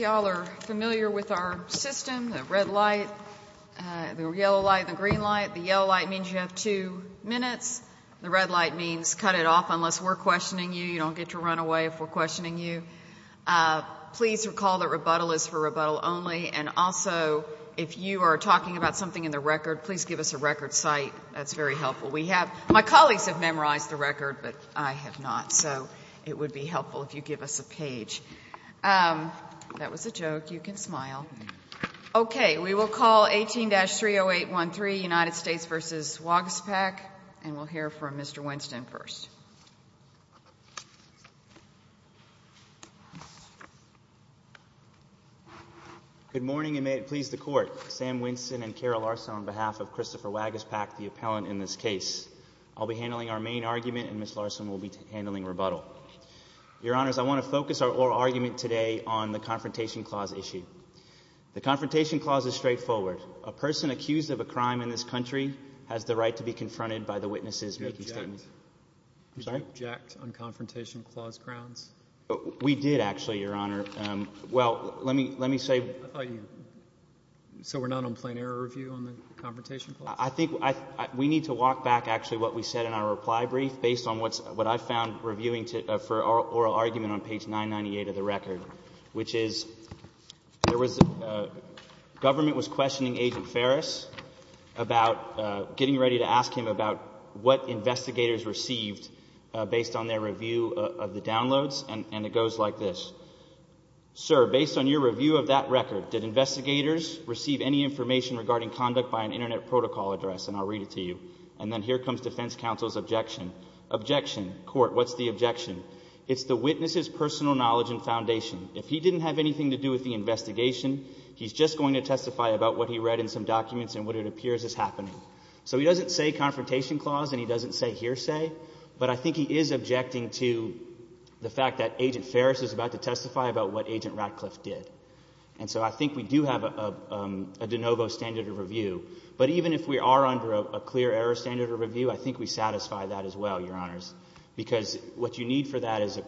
with our system, the red light, the yellow light, the green light. The yellow light means you have two minutes. The red light means cut it off unless we're questioning you. You don't get to run away if we're questioning you. Please recall that rebuttal is for rebuttal only. And also, if you are talking about something in the record, please give us a record site. That's very helpful. We have, my colleagues have memorized the record, but I have not. So it would be helpful if you give us a page. That was a joke. You can smile. Okay. We will call 18-30813, United States v. Waguespack, and we'll hear from Mr. Winston first. Good morning, and may it please the Court. Sam Winston and Kara Larson on behalf of Christopher Waguespack, the appellant in this case. I'll be handling our main argument, and Ms. Larson will be handling rebuttal. Your Honors, I want to focus our oral argument today on the Confrontation Clause issue. The Confrontation Clause is straightforward. A person accused of a crime in this country has the right to be confronted by the witnesses making statements. Did you object? I'm sorry? Did you object on Confrontation Clause grounds? We did, actually, Your Honor. Well, let me say So we're not on plain error review on the Confrontation Clause? I think we need to walk back, actually, what we said in our reply brief, based on what I found reviewing for our oral argument on page 998 of the record, which is government was questioning Agent Ferris about getting ready to ask him about what investigators received based on their review of the downloads, and it goes like this. Sir, based on your review of that record, did investigators receive any information regarding conduct by an Internet protocol address? And I'll read it to you. And then here comes Defense Counsel's objection. Objection. Court, what's the objection? It's the witness's personal knowledge and foundation. If he didn't have anything to do with the investigation, he's just going to testify about what he read in some documents and what it appears is happening. So he doesn't say Confrontation Clause and he doesn't say hearsay, but I think he is objecting to the fact that Agent Ferris is about to testify about what Agent Ratcliffe did. And so I think we do have a de novo standard of review. But even if we are under a clear error standard of review, I think we satisfy that as well, Your Honors, because what you need for that is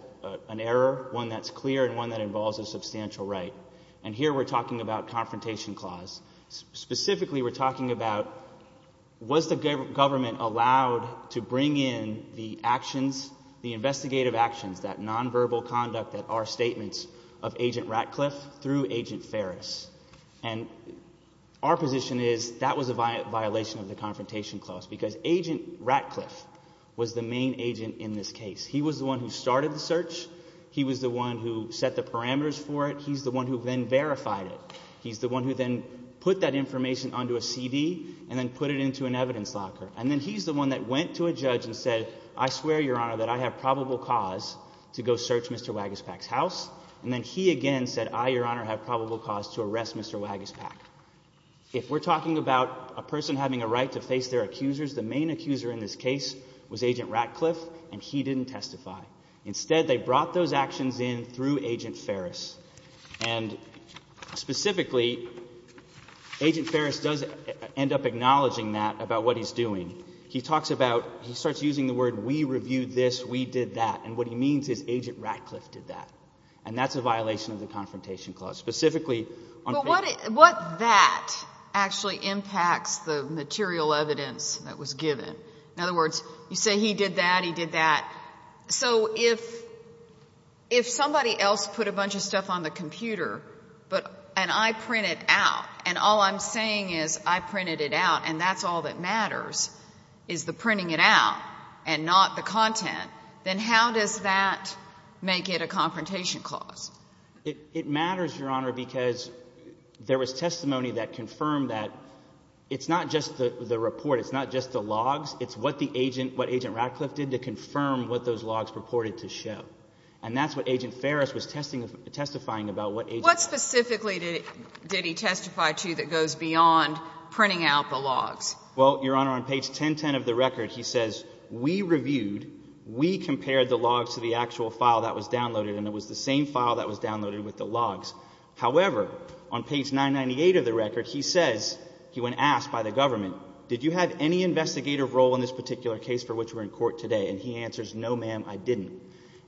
an error, one that's clear and one that involves a substantial right. And here we're talking about Confrontation Clause. Specifically, we're talking about was the government allowed to bring in the actions, the investigative actions, that nonverbal conduct that are statements of Agent Ratcliffe through Agent Ferris. And our position is that was a violation of the Confrontation Clause because Agent Ratcliffe was the main agent in this case. He was the one who started the search. He was the one who set the parameters for it. He's the one who then verified it. He's the one who then put that information onto a CD and then put it into an evidence locker. And then he's the one that went to a judge and said, I swear, Your Honor, that I have probable cause to go search Mr. Wagaspak's house. And then he again said, I, Your Honor, have probable cause to arrest Mr. Wagaspak. If we're talking about a person having a right to face their accusers, the main accuser in this case was Agent Ratcliffe, and he didn't testify. Instead, they brought those actions in through Agent Ferris. And specifically, Agent Ferris does end up acknowledging that about what he's doing. He talks about, he starts using the word we reviewed this, we did that. And what he means is Agent Ratcliffe did that. And that's a violation of the Confrontation Clause. Specifically, on paper. But what that actually impacts the material evidence that was given. In other words, you say he did that, he did that. So if somebody else put a bunch of stuff on the computer and I print it out, and all I'm saying is I printed it out and that's all that matters, is the printing it out and not the content, then how does that make it a Confrontation Clause? It matters, Your Honor, because there was testimony that confirmed that it's not just the report, it's not just the logs, it's what the agent, what Agent Ratcliffe did to confirm what those logs purported to show. And that's what Agent Ferris was testifying about. What specifically did he testify to that goes beyond printing out the logs? Well, Your Honor, on page 1010 of the record, he says, we reviewed, we compared the logs to the actual file that was downloaded, and it was the same file that was downloaded with the logs. However, on page 998 of the record, he says, he went and asked by the government, did you have any investigative role in this particular case for which we're in court today? And he answers, no, ma'am, I didn't.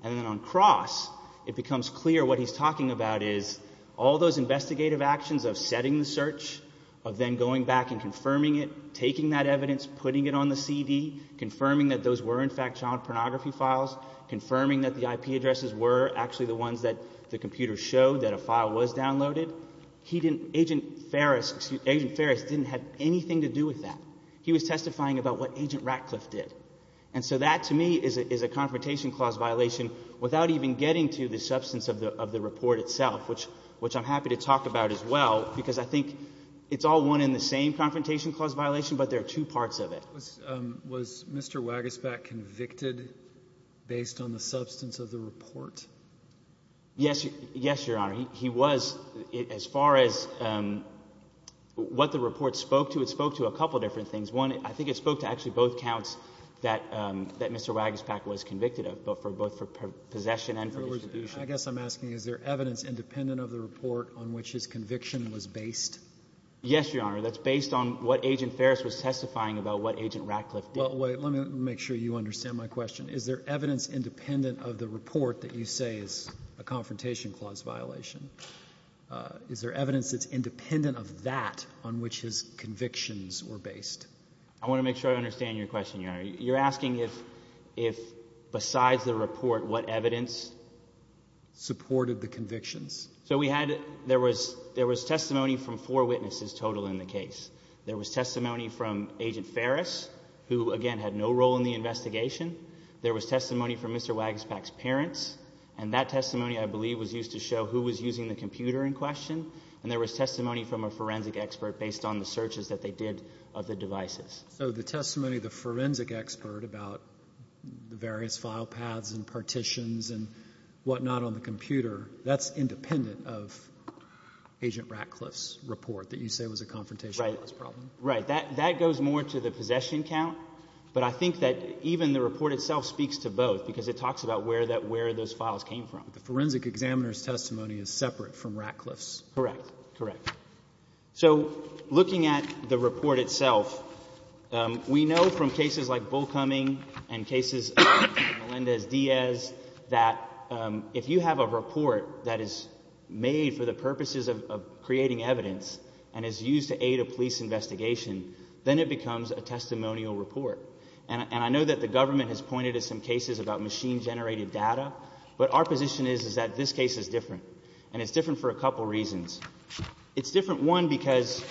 And then on cross, it becomes clear what he's talking about is all those investigative actions of setting the search, of then going back and confirming it, taking that evidence, putting it on the CD, confirming that those were in fact child pornography files, confirming that the IP addresses were actually the ones that the computer showed that a file was downloaded. He didn't, Agent Ferris, Agent Ferris didn't have anything to do with that. He was testifying about what Agent Ratcliffe did. And so that, to me, is a confrontation clause violation without even getting to the substance of the report itself, which I'm happy to talk about as well, because I think it's all one in the same confrontation clause violation, but there are two parts of it. Was Mr. Wagespat convicted based on the substance of the report? Yes, Your Honor. He was. As far as what the report spoke to, it spoke to a couple different things. One, I think it spoke to actually both counts that Mr. Wagespat was convicted of, both for possession and for distribution. I guess I'm asking, is there evidence independent of the report on which his conviction was based? Yes, Your Honor. That's based on what Agent Ferris was testifying about what Agent Ratcliffe did. Well, wait. Let me make sure you understand my question. Is there evidence independent of the report that you say is a confrontation clause violation? Is there evidence that's independent of that on which his convictions were based? I want to make sure I understand your question, Your Honor. You're asking if, besides the report, what evidence supported the convictions? So we had, there was testimony from four witnesses total in the case. There was testimony from Agent Ferris, who, again, had no role in the investigation. There was testimony from Mr. Wagespat's parents, and that testimony, I believe, was used to show who was using the computer in question, and there was testimony from a forensic expert based on the searches that they did of the devices. So the testimony of the forensic expert about the various file paths and partitions and whatnot on the computer, that's independent of Agent Ratcliffe's report that you say was a confrontation clause problem? Right. That goes more to the possession count, but I think that even the report itself speaks to both, because it talks about where those files came from. The forensic examiner's testimony is separate from Ratcliffe's. Correct. Correct. So looking at the report itself, we know from cases like Bull Cumming and cases like Melendez-Diaz that if you have a report that is made for the purposes of creating evidence and is used to aid a police investigation, then it becomes a testimonial report. And I know that the government has pointed to some cases about machine-generated data, but our position is that this case is different, and it's different for a couple reasons. It's different, one, because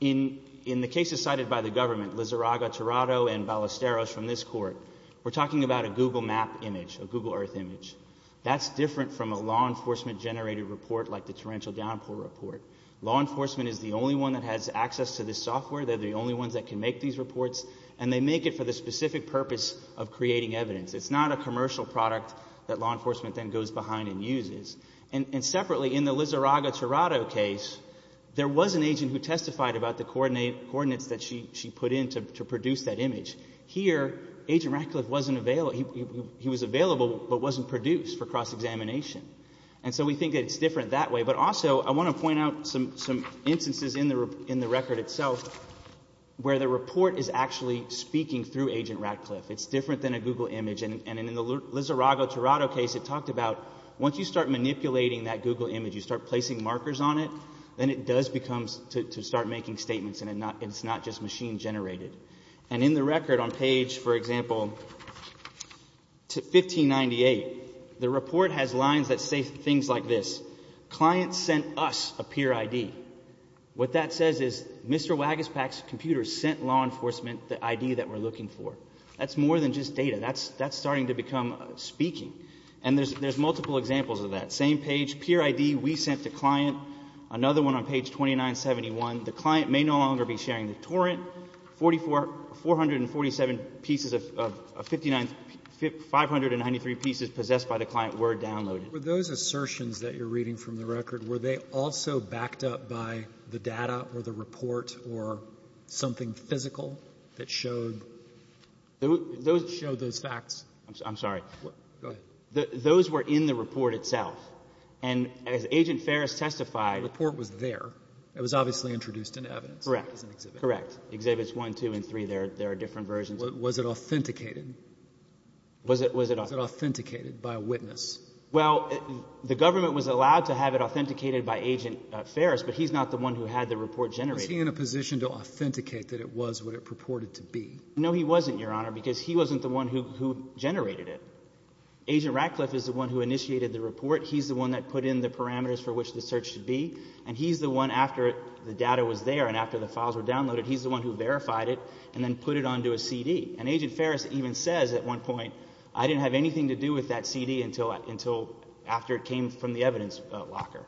in the cases cited by the government, Lizarraga, Tirado, and Ballesteros from this court, we're talking about a Google map image, a Google Earth image. That's different from a law enforcement-generated report like the Torrential Downpour report. Law enforcement is the only one that has access to this software. They're the only ones that can make these reports, and they make it for the specific purpose of creating evidence. It's not a commercial product that law enforcement then goes behind and uses. And separately, in the Lizarraga-Tirado case, there was an agent who testified about the coordinates that she put in to produce that image. Here, Agent Ratcliffe wasn't available. He was available but wasn't produced for cross-examination. And so we think that it's different that way. But also I want to point out some instances in the record itself where the report is actually speaking through Agent Ratcliffe. It's different than a Google image. And in the Lizarraga-Tirado case, it talked about once you start manipulating that Google image, you start placing markers on it, then it does become to start making statements, and it's not just machine-generated. And in the record on page, for example, 1598, the report has lines that say things like this, Client sent us a peer ID. What that says is Mr. Wagaspak's computer sent law enforcement the ID that we're looking for. That's more than just data. That's starting to become speaking. And there's multiple examples of that. Same page, peer ID, we sent the client. Another one on page 2971, the client may no longer be sharing the torrent. 447 pieces of 59 — 593 pieces possessed by the client were downloaded. Those assertions that you're reading from the record, were they also backed up by the data or the report or something physical that showed those facts? I'm sorry. Go ahead. Those were in the report itself. And as Agent Ferris testified — The report was there. It was obviously introduced in evidence. Correct. As an exhibit. Correct. Exhibits 1, 2, and 3, there are different versions. Was it authenticated? Was it authenticated by a witness? Well, the government was allowed to have it authenticated by Agent Ferris, but he's not the one who had the report generated. Was he in a position to authenticate that it was what it purported to be? No, he wasn't, Your Honor, because he wasn't the one who generated it. Agent Ratcliffe is the one who initiated the report. He's the one that put in the parameters for which the search should be. And he's the one, after the data was there and after the files were downloaded, he's the one who verified it and then put it onto a CD. And Agent Ferris even says at one point, I didn't have anything to do with that CD until after it came from the evidence locker.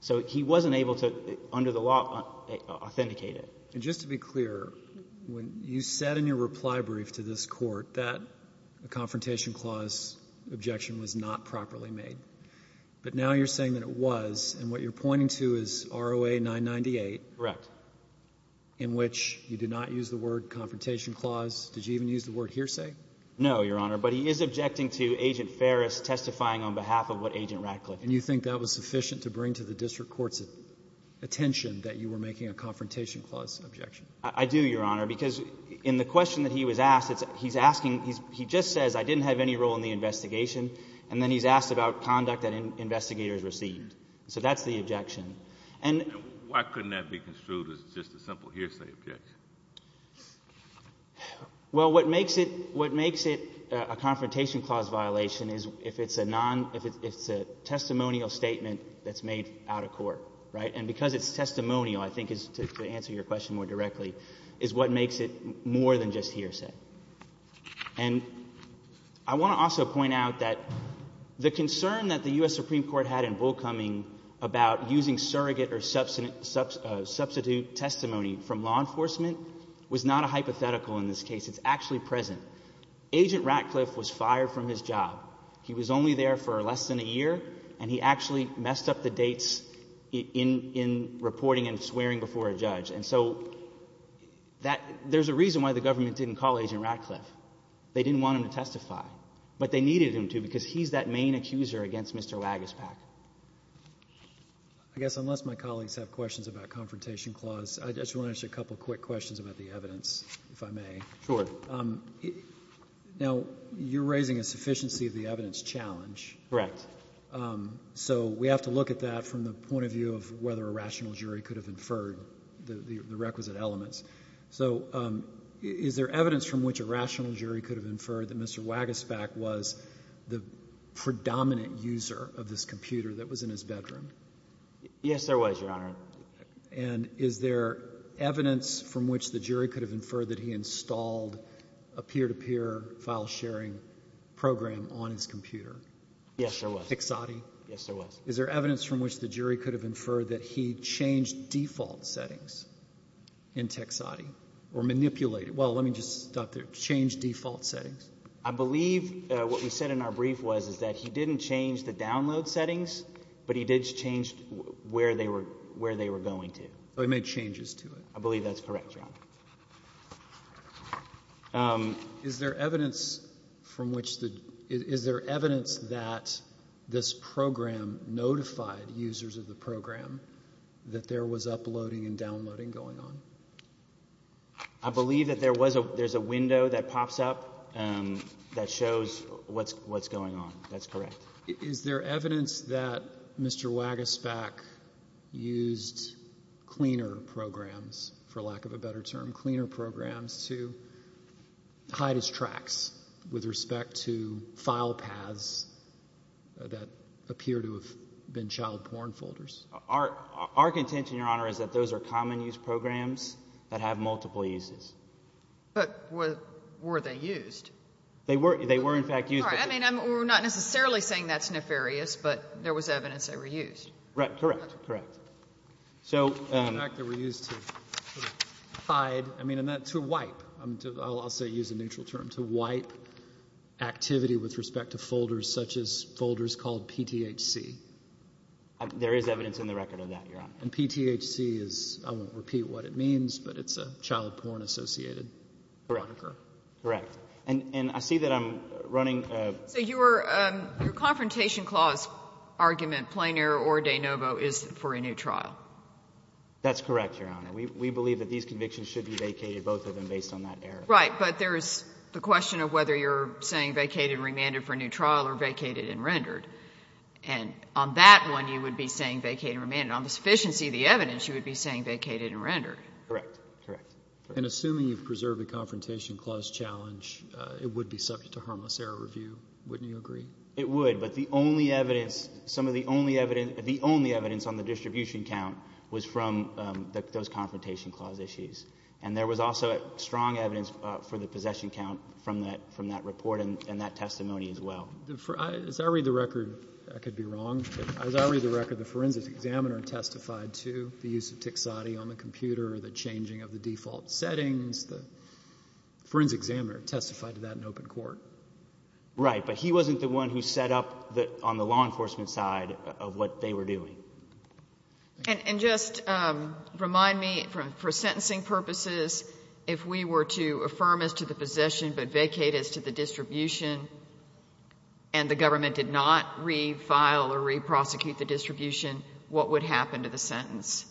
So he wasn't able to, under the law, authenticate it. And just to be clear, when you said in your reply brief to this Court that the Confrontation Clause objection was not properly made, but now you're saying that it was, and what you're pointing to is ROA 998. Correct. In which you did not use the word Confrontation Clause. Did you even use the word hearsay? No, Your Honor, but he is objecting to Agent Ferris testifying on behalf of what Agent Ratcliffe did. And you think that was sufficient to bring to the district court's attention that you were making a Confrontation Clause objection? I do, Your Honor, because in the question that he was asked, he's asking, he just says, I didn't have any role in the investigation, and then he's asked about conduct that investigators received. So that's the objection. And why couldn't that be construed as just a simple hearsay objection? Well, what makes it a Confrontation Clause violation is if it's a testimonial statement that's made out of court, right? And because it's testimonial, I think, to answer your question more directly, is what makes it more than just hearsay. And I want to also point out that the concern that the U.S. Supreme Court had in Bull Cumming about using surrogate or substitute testimony from law enforcement was not a hypothetical in this case. It's actually present. Agent Ratcliffe was fired from his job. He was only there for less than a year, and he actually messed up the dates in reporting and swearing before a judge. And so there's a reason why the government didn't call Agent Ratcliffe. They didn't want him to testify. But they needed him to because he's that main accuser against Mr. Wagaspak. I guess unless my colleagues have questions about Confrontation Clause, I just want to ask you a couple quick questions about the evidence, if I may. Sure. Now, you're raising a sufficiency of the evidence challenge. Correct. So we have to look at that from the point of view of whether a rational jury could have inferred the requisite elements. So is there evidence from which a rational jury could have inferred that Mr. Wagaspak was the predominant user of this computer that was in his bedroom? Yes, there was, Your Honor. And is there evidence from which the jury could have inferred that he installed a peer-to-peer file sharing program on his computer? Yes, there was. Texati? Yes, there was. Is there evidence from which the jury could have inferred that he changed default settings in Texati or manipulated? Well, let me just stop there. Changed default settings? I believe what we said in our brief was that he didn't change the download settings, but he did change where they were going to. So he made changes to it. I believe that's correct, Your Honor. Is there evidence from which the – is there evidence that this program notified users of the program that there was uploading and downloading going on? I believe that there was a window that pops up that shows what's going on. That's correct. Is there evidence that Mr. Wagesbeck used cleaner programs, for lack of a better term, cleaner programs to hide his tracks with respect to file paths that appear to have been child porn folders? Our contention, Your Honor, is that those are common-use programs that have multiple uses. But were they used? They were, in fact, used. All right. I mean, we're not necessarily saying that's nefarious, but there was evidence they were used. Right. Correct. Correct. In fact, they were used to hide – I mean, to wipe. I'll also use a neutral term, to wipe activity with respect to folders such as folders called PTHC. There is evidence in the record of that, Your Honor. And PTHC is – I won't repeat what it means, but it's a child porn-associated – Correct. Correct. And I see that I'm running – So your confrontation clause argument, plain error or de novo, is for a new trial? That's correct, Your Honor. We believe that these convictions should be vacated, both of them, based on that error. Right. But there is the question of whether you're saying vacated and remanded for a new trial or vacated and rendered. And on that one, you would be saying vacated and remanded. On the sufficiency of the evidence, you would be saying vacated and rendered. Correct. Correct. And assuming you've preserved the confrontation clause challenge, it would be subject to harmless error review. Wouldn't you agree? It would. But the only evidence – some of the only evidence – the only evidence on the distribution count was from those confrontation clause issues. And there was also strong evidence for the possession count from that report and that testimony as well. As I read the record – I could be wrong – but as I read the record, the forensic examiner testified to the use of TXADI on the computer or the changing of the default settings. The forensic examiner testified to that in open court. Right. But he wasn't the one who set up on the law enforcement side of what they were doing. And just remind me, for sentencing purposes, if we were to affirm as to the possession but vacate as to the distribution and the government did not refile or re-prosecute the distribution, what would happen to the sentence?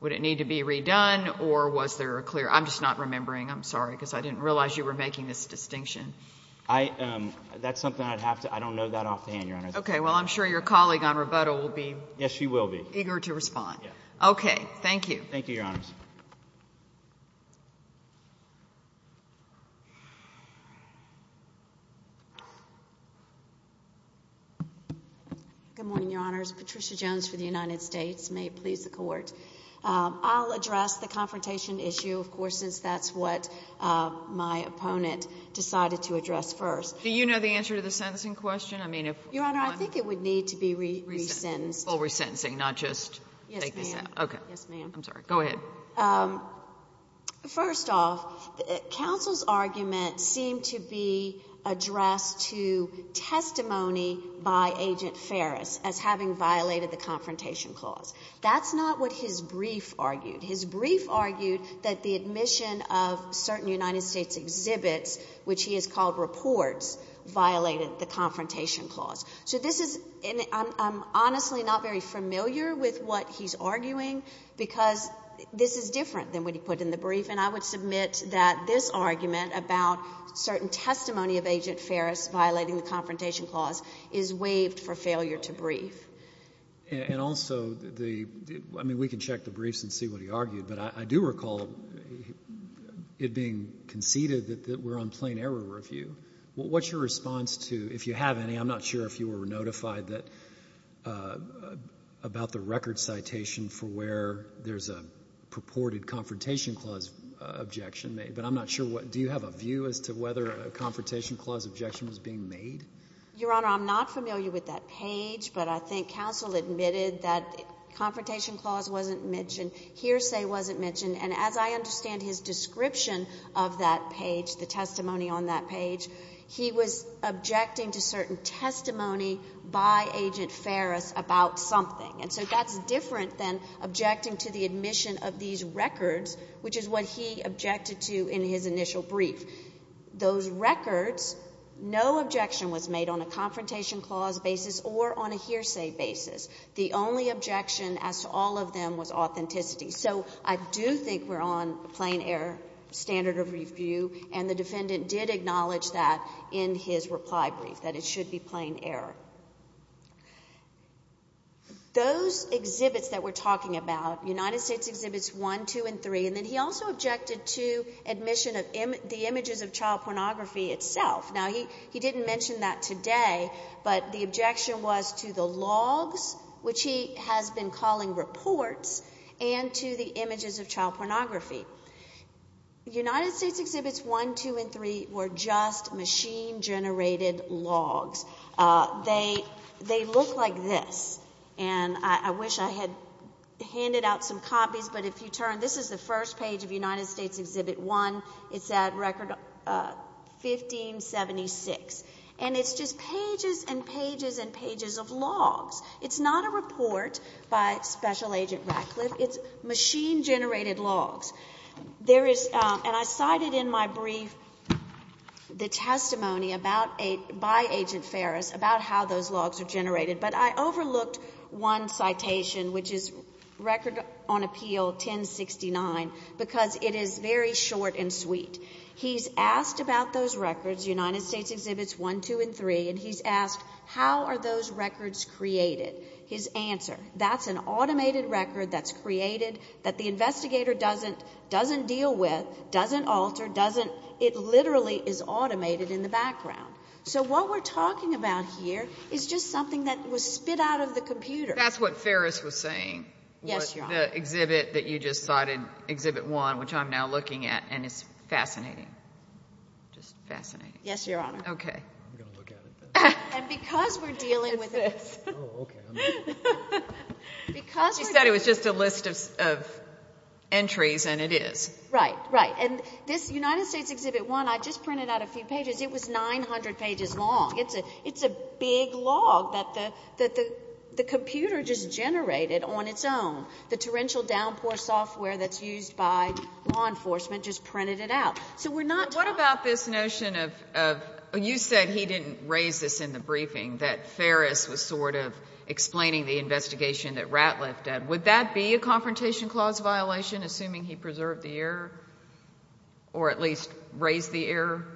Would it need to be redone or was there a clear – I'm just not remembering, I'm sorry, because I didn't realize you were making this distinction. That's something I'd have to – I don't know that offhand, Your Honor. Okay. Well, I'm sure your colleague on rebuttal will be eager to respond. Yes, she will be. Okay. Thank you. Thank you, Your Honors. Good morning, Your Honors. Patricia Jones for the United States. May it please the Court. I'll address the confrontation issue, of course, since that's what my opponent decided to address first. Do you know the answer to the sentencing question? I mean, if – Your Honor, I think it would need to be resentenced. Well, resentencing, not just take this out. Yes, ma'am. Okay. Yes, ma'am. I'm sorry. Go ahead. First off, counsel's argument seemed to be addressed to testimony by Agent Ferris as having violated the Confrontation Clause. That's not what his brief argued. His brief argued that the admission of certain United States exhibits, which he has called reports, violated the Confrontation Clause. So this is – I'm honestly not very familiar with what he's arguing because this is different than what he put in the brief, and I would submit that this argument about certain testimony of Agent Ferris violating the Confrontation Clause is waived for failure to brief. And also the – I mean, we can check the briefs and see what he argued, but I do recall it being conceded that we're on plain error review. What's your response to – if you have any. I'm not sure if you were notified that – about the record citation for where there's a purported Confrontation Clause objection made, but I'm not sure what – do you have a view as to whether a Confrontation Clause objection was being made? Your Honor, I'm not familiar with that page, but I think counsel admitted that Confrontation Clause wasn't mentioned, hearsay wasn't mentioned. And as I understand his description of that page, the testimony on that page, he was objecting to certain testimony by Agent Ferris about something. And so that's different than objecting to the admission of these records, which is what he objected to in his initial brief. Those records, no objection was made on a Confrontation Clause basis or on a hearsay basis. The only objection as to all of them was authenticity. So I do think we're on plain error standard of review, and the defendant did acknowledge that in his reply brief, that it should be plain error. Those exhibits that we're talking about, United States Exhibits 1, 2, and 3, and then he also objected to admission of the images of child pornography itself. Now, he didn't mention that today, but the objection was to the logs, which he has been calling reports, and to the images of child pornography. United States Exhibits 1, 2, and 3 were just machine-generated logs. They look like this. And I wish I had handed out some copies, but if you turn, this is the first page of United States Exhibit 1. It's at Record 1576. And it's just pages and pages and pages of logs. It's not a report by Special Agent Ratcliffe. It's machine-generated logs. And I cited in my brief the testimony by Agent Ferris about how those logs are generated, but I overlooked one citation, which is Record on Appeal 1069, because it is very short and sweet. He's asked about those records, United States Exhibits 1, 2, and 3, and he's asked how are those records created. His answer, that's an automated record that's created, that the investigator doesn't deal with, doesn't alter, it literally is automated in the background. So what we're talking about here is just something that was spit out of the computer. That's what Ferris was saying. Yes, Your Honor. The exhibit that you just cited, Exhibit 1, which I'm now looking at, and it's fascinating. Just fascinating. Yes, Your Honor. Okay. And because we're dealing with it. Oh, okay. She said it was just a list of entries, and it is. Right, right. And this United States Exhibit 1, I just printed out a few pages. It was 900 pages long. It's a big log that the computer just generated on its own. The torrential downpour software that's used by law enforcement just printed it out. What about this notion of you said he didn't raise this in the briefing, that Ferris was sort of explaining the investigation that Ratcliffe did. Would that be a confrontation clause violation, assuming he preserved the error, or at least raised the error?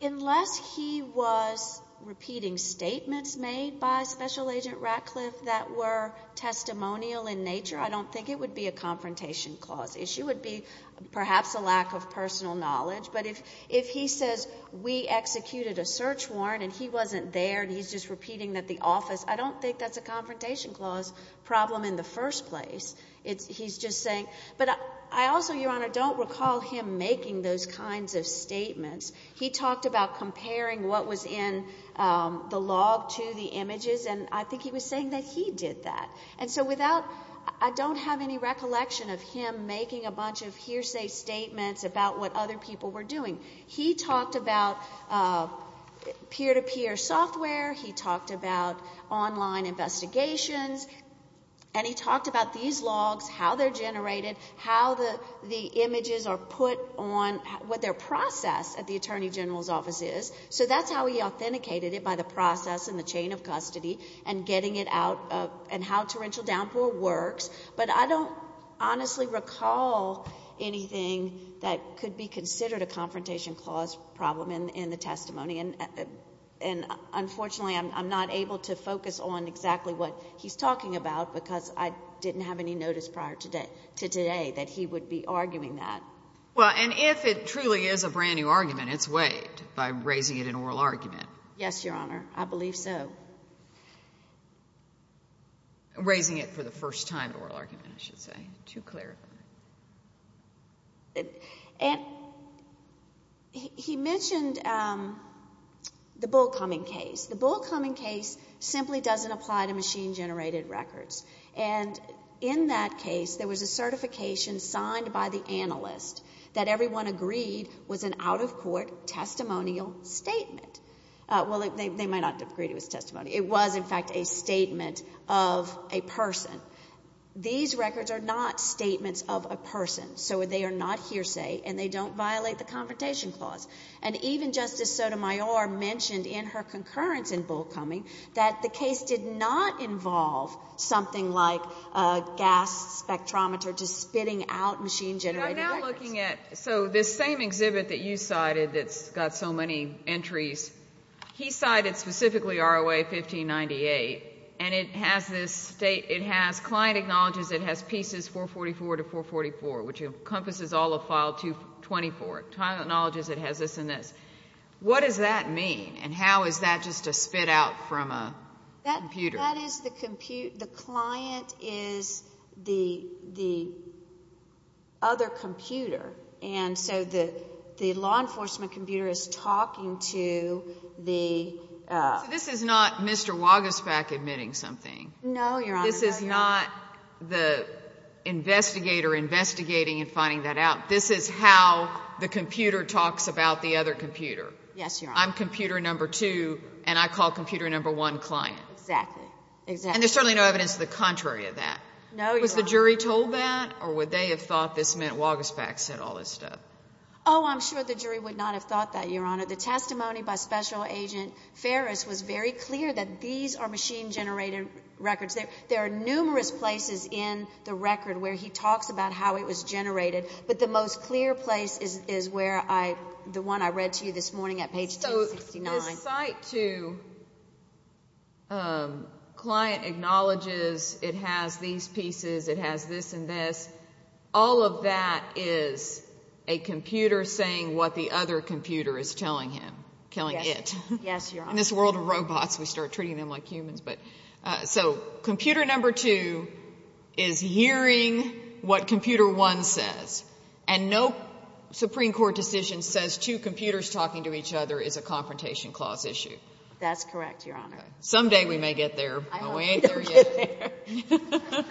Unless he was repeating statements made by Special Agent Ratcliffe that were testimonial in nature, I don't think it would be a confrontation clause issue. It would be perhaps a lack of personal knowledge. But if he says we executed a search warrant and he wasn't there and he's just repeating at the office, I don't think that's a confrontation clause problem in the first place. He's just saying. But I also, Your Honor, don't recall him making those kinds of statements. He talked about comparing what was in the log to the images, and I think he was saying that he did that. And so I don't have any recollection of him making a bunch of hearsay statements about what other people were doing. He talked about peer-to-peer software. He talked about online investigations. And he talked about these logs, how they're generated, how the images are put on what their process at the Attorney General's office is. So that's how he authenticated it, by the process and the chain of custody and getting it out and how torrential downpour works. But I don't honestly recall anything that could be considered a confrontation clause problem in the testimony, and unfortunately I'm not able to focus on exactly what he's talking about because I didn't have any notice prior to today that he would be arguing that. Well, and if it truly is a brand-new argument, it's waived by raising it in oral argument. Yes, Your Honor. I believe so. Raising it for the first time in oral argument, I should say, to clarify. And he mentioned the Bull Cumming case. The Bull Cumming case simply doesn't apply to machine-generated records. And in that case, there was a certification signed by the analyst that everyone agreed was an out-of-court testimonial statement. Well, they might not have agreed it was testimony. It was, in fact, a statement of a person. These records are not statements of a person, so they are not hearsay and they don't violate the confrontation clause. And even Justice Sotomayor mentioned in her concurrence in Bull Cumming that the case did not involve something like a gas spectrometer to spitting out machine-generated records. I'm now looking at this same exhibit that you cited that's got so many entries. He cited specifically ROA 1598, and it has this state. It has client acknowledges it has pieces 444 to 444, which encompasses all of file 224. Client acknowledges it has this and this. What does that mean, and how is that just a spit-out from a computer? That is the client is the other computer, and so the law enforcement computer is talking to the... So this is not Mr. Wagespach admitting something. No, Your Honor. This is not the investigator investigating and finding that out. This is how the computer talks about the other computer. Yes, Your Honor. I'm computer number two, and I call computer number one client. Exactly, exactly. And there's certainly no evidence to the contrary of that. No, Your Honor. Was the jury told that, or would they have thought this meant Wagespach said all this stuff? Oh, I'm sure the jury would not have thought that, Your Honor. The testimony by Special Agent Ferris was very clear that these are machine-generated records. There are numerous places in the record where he talks about how it was generated, but the most clear place is the one I read to you this morning at page 269. His site two client acknowledges it has these pieces, it has this and this. All of that is a computer saying what the other computer is telling him, telling it. Yes, Your Honor. In this world of robots, we start treating them like humans. So computer number two is hearing what computer one says, and no Supreme Court decision says two computers talking to each other is a confrontation clause issue. That's correct, Your Honor. Someday we may get there, but we ain't there yet. I hope we don't get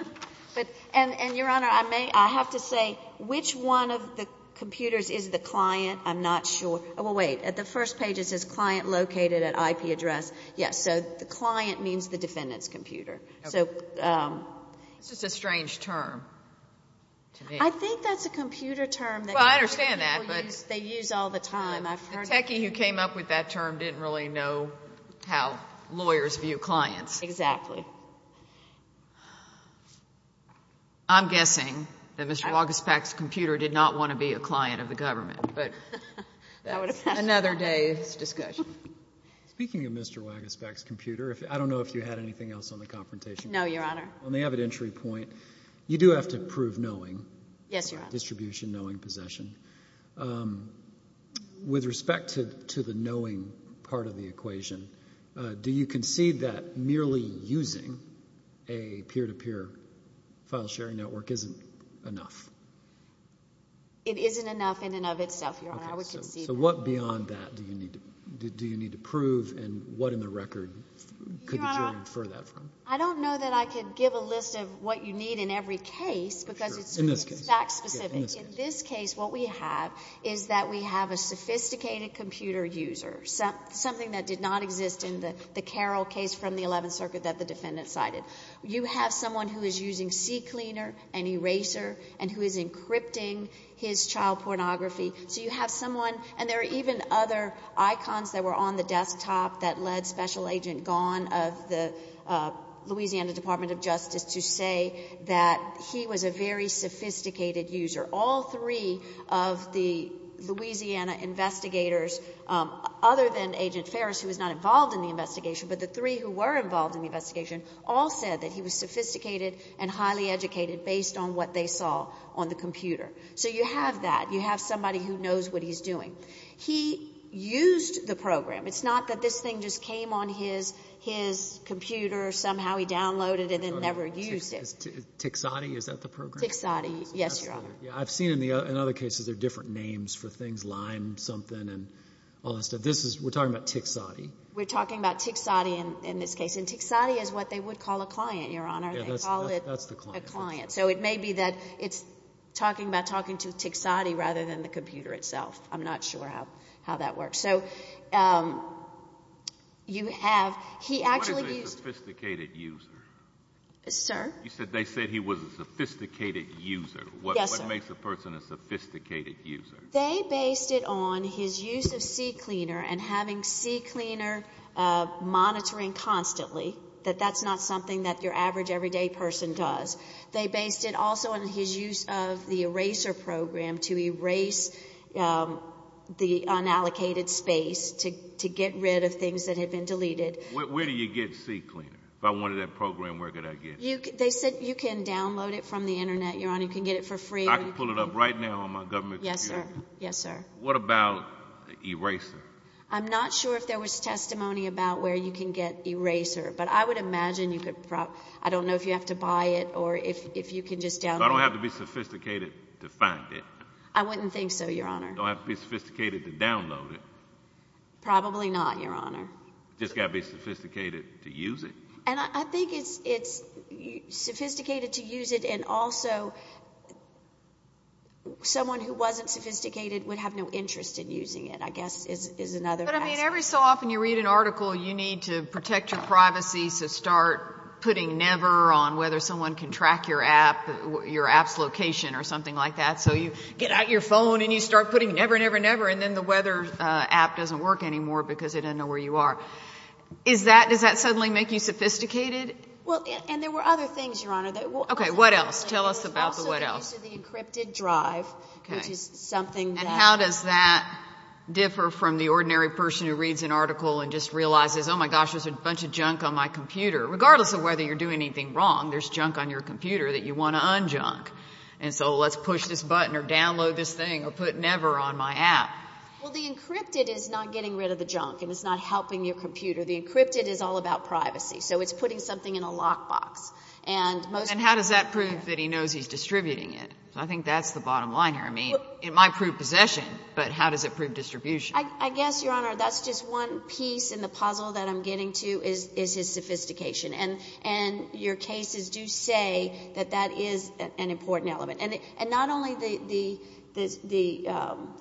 there. And, Your Honor, I have to say, which one of the computers is the client? I'm not sure. Well, wait. At the first page it says client located at IP address. Yes, so the client means the defendant's computer. This is a strange term to me. I think that's a computer term that people use all the time. The techie who came up with that term didn't really know how lawyers view clients. Exactly. I'm guessing that Mr. Wagespac's computer did not want to be a client of the government, but that's another day's discussion. Speaking of Mr. Wagespac's computer, I don't know if you had anything else on the confrontation clause. No, Your Honor. On the evidentiary point, you do have to prove knowing. Yes, Your Honor. Distribution, knowing, possession. With respect to the knowing part of the equation, do you concede that merely using a peer-to-peer file sharing network isn't enough? It isn't enough in and of itself, Your Honor. I would concede that. So what beyond that do you need to prove, and what in the record could you infer that from? I don't know that I could give a list of what you need in every case because it's fact specific. In this case, what we have is that we have a sophisticated computer user, something that did not exist in the Carroll case from the Eleventh Circuit that the defendant cited. You have someone who is using CCleaner and Eraser and who is encrypting his child pornography. So you have someone, and there are even other icons that were on the desktop that led Special Agent Gone of the Louisiana Department of Justice to say that he was a very sophisticated user. All three of the Louisiana investigators, other than Agent Ferris, who was not involved in the investigation, but the three who were involved in the investigation, all said that he was sophisticated and highly educated based on what they saw on the computer. So you have that. You have somebody who knows what he's doing. He used the program. It's not that this thing just came on his computer, somehow he downloaded it, and then never used it. Tixotti, is that the program? Tixotti, yes, Your Honor. I've seen in other cases there are different names for things, Lime something and all that stuff. We're talking about Tixotti. We're talking about Tixotti in this case, and Tixotti is what they would call a client, Your Honor. They call it a client. So it may be that it's talking about talking to Tixotti rather than the computer itself. I'm not sure how that works. So you have he actually used. What is a sophisticated user? Sir? You said they said he was a sophisticated user. Yes, sir. What makes a person a sophisticated user? They based it on his use of CCleaner and having CCleaner monitoring constantly, that that's not something that your average, everyday person does. They based it also on his use of the eraser program to erase the unallocated space to get rid of things that had been deleted. Where do you get CCleaner? If I wanted that program, where could I get it? They said you can download it from the Internet, Your Honor. You can get it for free. I can pull it up right now on my government computer? Yes, sir. Yes, sir. What about the eraser? I'm not sure if there was testimony about where you can get eraser, but I would imagine you could probably, I don't know if you have to buy it or if you can just download it. I don't have to be sophisticated to find it. I wouldn't think so, Your Honor. Don't have to be sophisticated to download it. Probably not, Your Honor. Just got to be sophisticated to use it. And I think it's sophisticated to use it and also someone who wasn't sophisticated would have no interest in using it, I guess is another aspect. But, I mean, every so often you read an article you need to protect your privacy, so start putting never on whether someone can track your app, your app's location or something like that. So you get out your phone and you start putting never, never, never, and then the weather app doesn't work anymore because it doesn't know where you are. Does that suddenly make you sophisticated? Well, and there were other things, Your Honor. Okay, what else? Tell us about the what else. Also the use of the encrypted drive, which is something that… A person who reads an article and just realizes, oh, my gosh, there's a bunch of junk on my computer. Regardless of whether you're doing anything wrong, there's junk on your computer that you want to un-junk. And so let's push this button or download this thing or put never on my app. Well, the encrypted is not getting rid of the junk and it's not helping your computer. The encrypted is all about privacy. So it's putting something in a lockbox. And how does that prove that he knows he's distributing it? I think that's the bottom line here. I mean, it might prove possession, but how does it prove distribution? I guess, Your Honor, that's just one piece in the puzzle that I'm getting to is his sophistication. And your cases do say that that is an important element. And not only the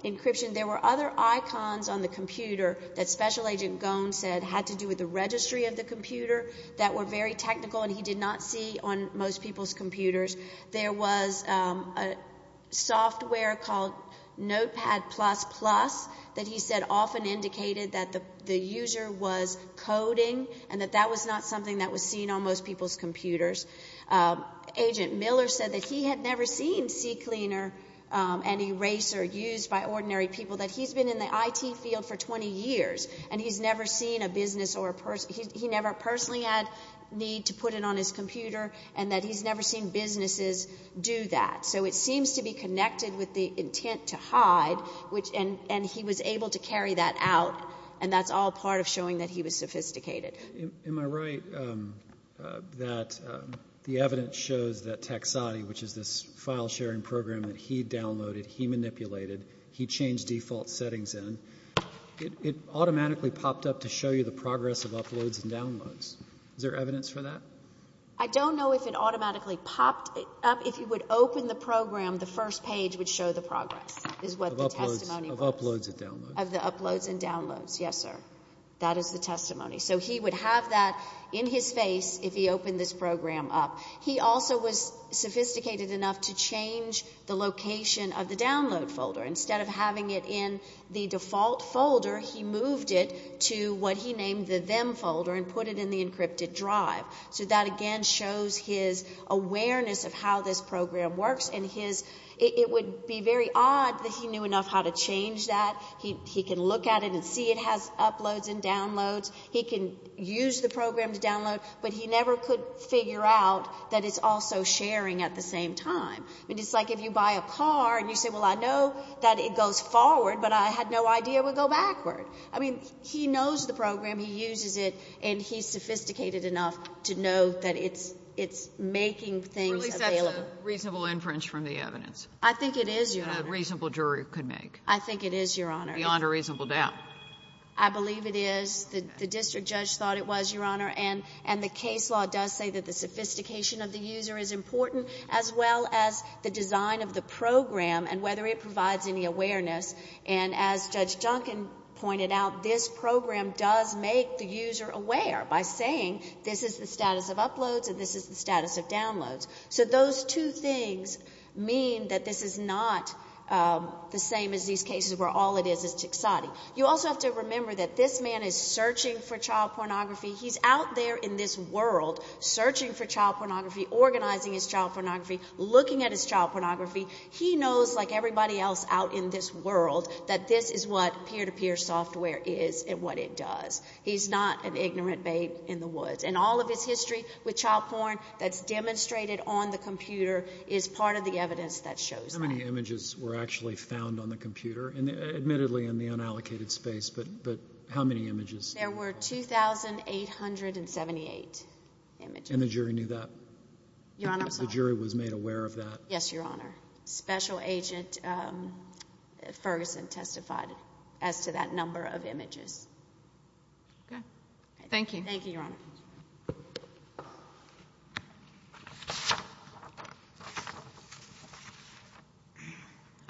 encryption. There were other icons on the computer that Special Agent Goen said had to do with the registry of the computer that were very technical and he did not see on most people's computers. There was a software called Notepad++ that he said often indicated that the user was coding and that that was not something that was seen on most people's computers. Agent Miller said that he had never seen CCleaner and Eraser used by ordinary people, that he's been in the IT field for 20 years and he's never seen a business or he never personally had need to put it on his computer and that he's never seen businesses do that. So it seems to be connected with the intent to hide and he was able to carry that out and that's all part of showing that he was sophisticated. Am I right that the evidence shows that Taxati, which is this file sharing program that he downloaded, he manipulated, he changed default settings in, it automatically popped up to show you the progress of uploads and downloads. Is there evidence for that? I don't know if it automatically popped up. If you would open the program, the first page would show the progress is what the testimony was. Of uploads and downloads. Of the uploads and downloads, yes, sir. That is the testimony. So he would have that in his face if he opened this program up. He also was sophisticated enough to change the location of the download folder. Instead of having it in the default folder, he moved it to what he named the them folder and put it in the encrypted drive. So that, again, shows his awareness of how this program works and it would be very odd that he knew enough how to change that. He can look at it and see it has uploads and downloads. He can use the program to download, but he never could figure out that it's also sharing at the same time. It's like if you buy a car and you say, well, I know that it goes forward, but I had no idea it would go backward. I mean, he knows the program, he uses it, and he's sophisticated enough to know that it's making things available. At least that's a reasonable inference from the evidence. I think it is, Your Honor. A reasonable jury could make. I think it is, Your Honor. Beyond a reasonable doubt. I believe it is. The district judge thought it was, Your Honor, and the case law does say that the sophistication of the user is important as well as the design of the program and whether it provides any awareness. And as Judge Junkin pointed out, this program does make the user aware by saying, this is the status of uploads and this is the status of downloads. So those two things mean that this is not the same as these cases where all it is is tixati. You also have to remember that this man is searching for child pornography. He's out there in this world searching for child pornography, organizing his child pornography, looking at his child pornography. He knows, like everybody else out in this world, that this is what peer-to-peer software is and what it does. He's not an ignorant babe in the woods. And all of his history with child porn that's demonstrated on the computer is part of the evidence that shows that. How many images were actually found on the computer, admittedly in the unallocated space, but how many images? There were 2,878 images. And the jury knew that? Your Honor, I'm sorry. The jury was made aware of that? Yes, Your Honor. Special Agent Ferguson testified as to that number of images. Okay. Thank you. Thank you, Your Honor.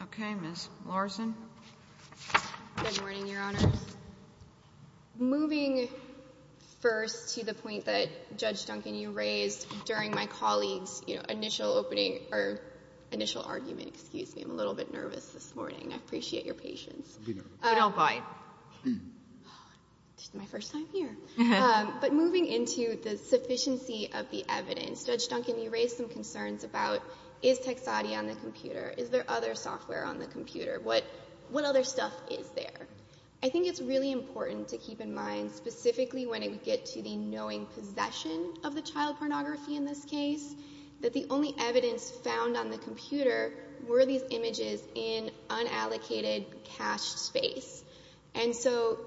Okay, Ms. Larson. Good morning, Your Honor. Moving first to the point that, Judge Duncan, you raised during my colleague's initial opening or initial argument. Excuse me. I'm a little bit nervous this morning. I appreciate your patience. You don't bite. This is my first time here. But moving into the sufficiency of the evidence, Judge Duncan, you raised some concerns about, is Texati on the computer? Is there other software on the computer? What other stuff is there? I think it's really important to keep in mind, specifically when it would get to the knowing possession of the child pornography in this case, that the only evidence found on the computer were these images in unallocated cached space. And so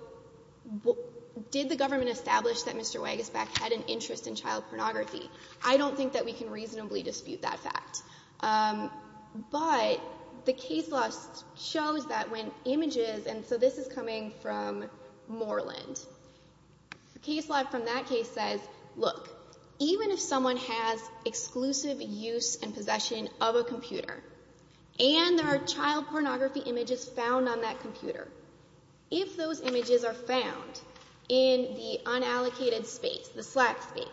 did the government establish that Mr. Weigesback had an interest in child pornography? I don't think that we can reasonably dispute that fact. But the case law shows that when images, and so this is coming from Moreland. The case law from that case says, look, even if someone has exclusive use and possession of a computer, and there are child pornography images found on that computer, if those images are found in the unallocated space, the slack space,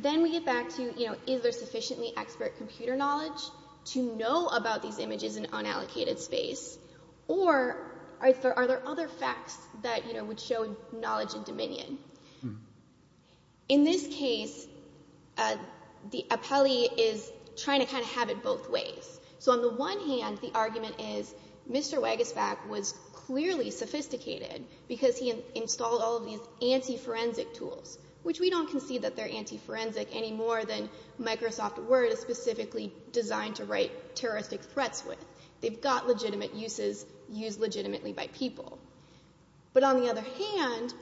then we get back to, you know, is there sufficiently expert computer knowledge to know about these Are there other facts that, you know, would show knowledge and dominion? In this case, the appellee is trying to kind of have it both ways. So on the one hand, the argument is Mr. Weigesback was clearly sophisticated because he installed all of these anti-forensic tools, which we don't concede that they're anti-forensic any more than Microsoft Word is specifically designed to write terroristic threats with. They've got legitimate uses, used legitimately by people. But on the other hand,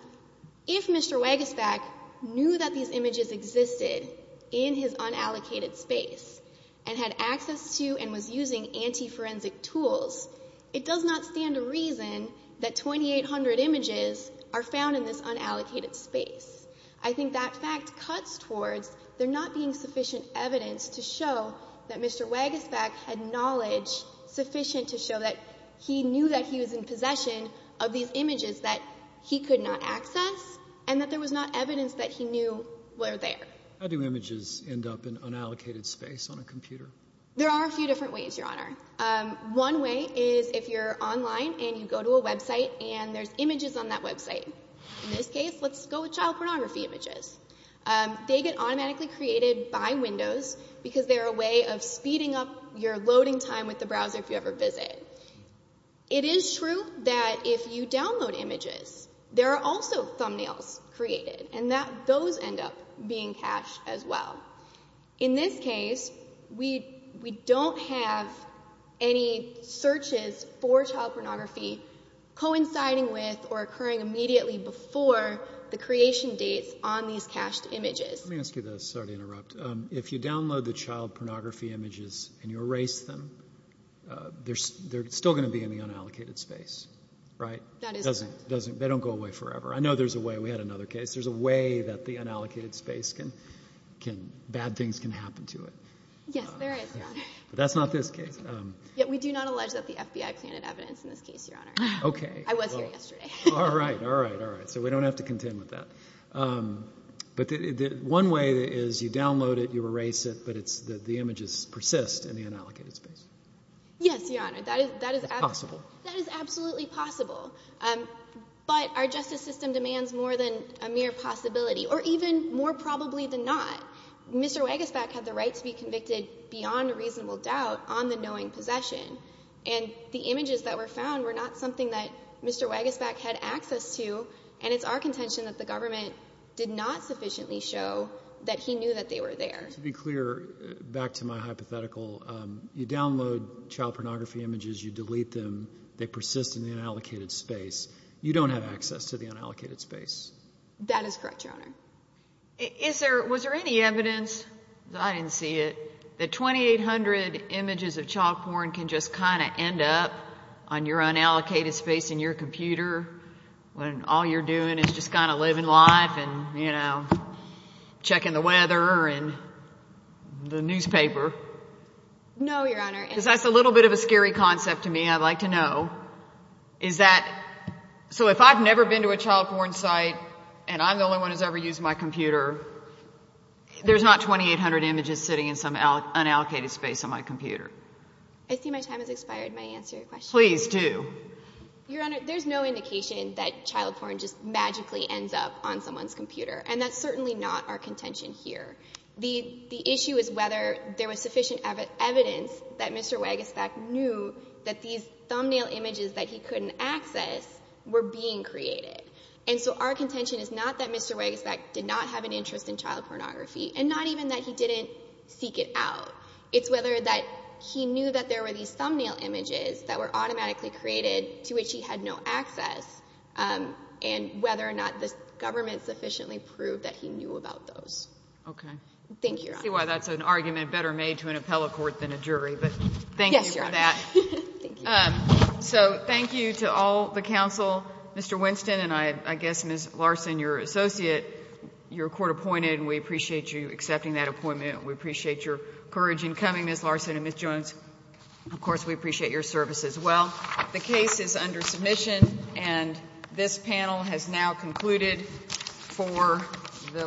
if Mr. Weigesback knew that these images existed in his unallocated space and had access to and was using anti-forensic tools, it does not stand to reason that 2,800 images are found in this unallocated space. I think that fact cuts towards there not being sufficient evidence to show that Mr. Weigesback knew that he was in possession of these images that he could not access and that there was not evidence that he knew were there. How do images end up in unallocated space on a computer? There are a few different ways, Your Honor. One way is if you're online and you go to a website and there's images on that website. In this case, let's go with child pornography images. They get automatically created by Windows because they're a way of speeding up your loading time with the browser if you ever visit. It is true that if you download images, there are also thumbnails created, and those end up being cached as well. In this case, we don't have any searches for child pornography coinciding with or occurring immediately before the creation dates on these cached images. Let me ask you this. Sorry to interrupt. If you download the child pornography images and you erase them, they're still going to be in the unallocated space, right? That is correct. They don't go away forever. I know there's a way. We had another case. There's a way that the unallocated space can, bad things can happen to it. Yes, there is, Your Honor. That's not this case. Yet we do not allege that the FBI planted evidence in this case, Your Honor. Okay. I was here yesterday. All right, all right, all right. So we don't have to contend with that. But one way is you download it, you erase it, but the images persist in the unallocated space. Yes, Your Honor. That is absolutely possible. But our justice system demands more than a mere possibility, or even more probably than not. Mr. Wegesbach had the right to be convicted, beyond reasonable doubt, on the knowing possession. And the images that were found were not something that Mr. Wegesbach had access to, and it's our contention that the government did not sufficiently show that he knew that they were there. To be clear, back to my hypothetical, you download child pornography images, you delete them, they persist in the unallocated space. You don't have access to the unallocated space. That is correct, Your Honor. Was there any evidence, I didn't see it, that 2,800 images of child porn can just kind of end up on your unallocated space in your computer when all you're doing is just kind of living life and, you know, checking the weather and the newspaper? No, Your Honor. Because that's a little bit of a scary concept to me, I'd like to know. Is that, so if I've never been to a child porn site and I'm the only one who's ever used my computer, there's not 2,800 images sitting in some unallocated space on my computer? I see my time has expired. May I answer your question? Please do. Your Honor, there's no indication that child porn just magically ends up on someone's computer, and that's certainly not our contention here. The issue is whether there was sufficient evidence that Mr. Weigestback knew that these thumbnail images that he couldn't access were being created. And so our contention is not that Mr. Weigestback did not have an interest in child pornography and not even that he didn't seek it out. It's whether that he knew that there were these thumbnail images that were automatically created to which he had no access and whether or not the government sufficiently proved that he knew about those. Thank you, Your Honor. I see why that's an argument better made to an appellate court than a jury, but thank you for that. Yes, Your Honor. Thank you. So thank you to all the counsel, Mr. Winston, and I guess Ms. Larson, your associate. You're court-appointed, and we appreciate you accepting that appointment. We appreciate your courage in coming, Ms. Larson and Ms. Jones. Of course, we appreciate your service as well. The case is under submission, and this panel has now concluded for the week.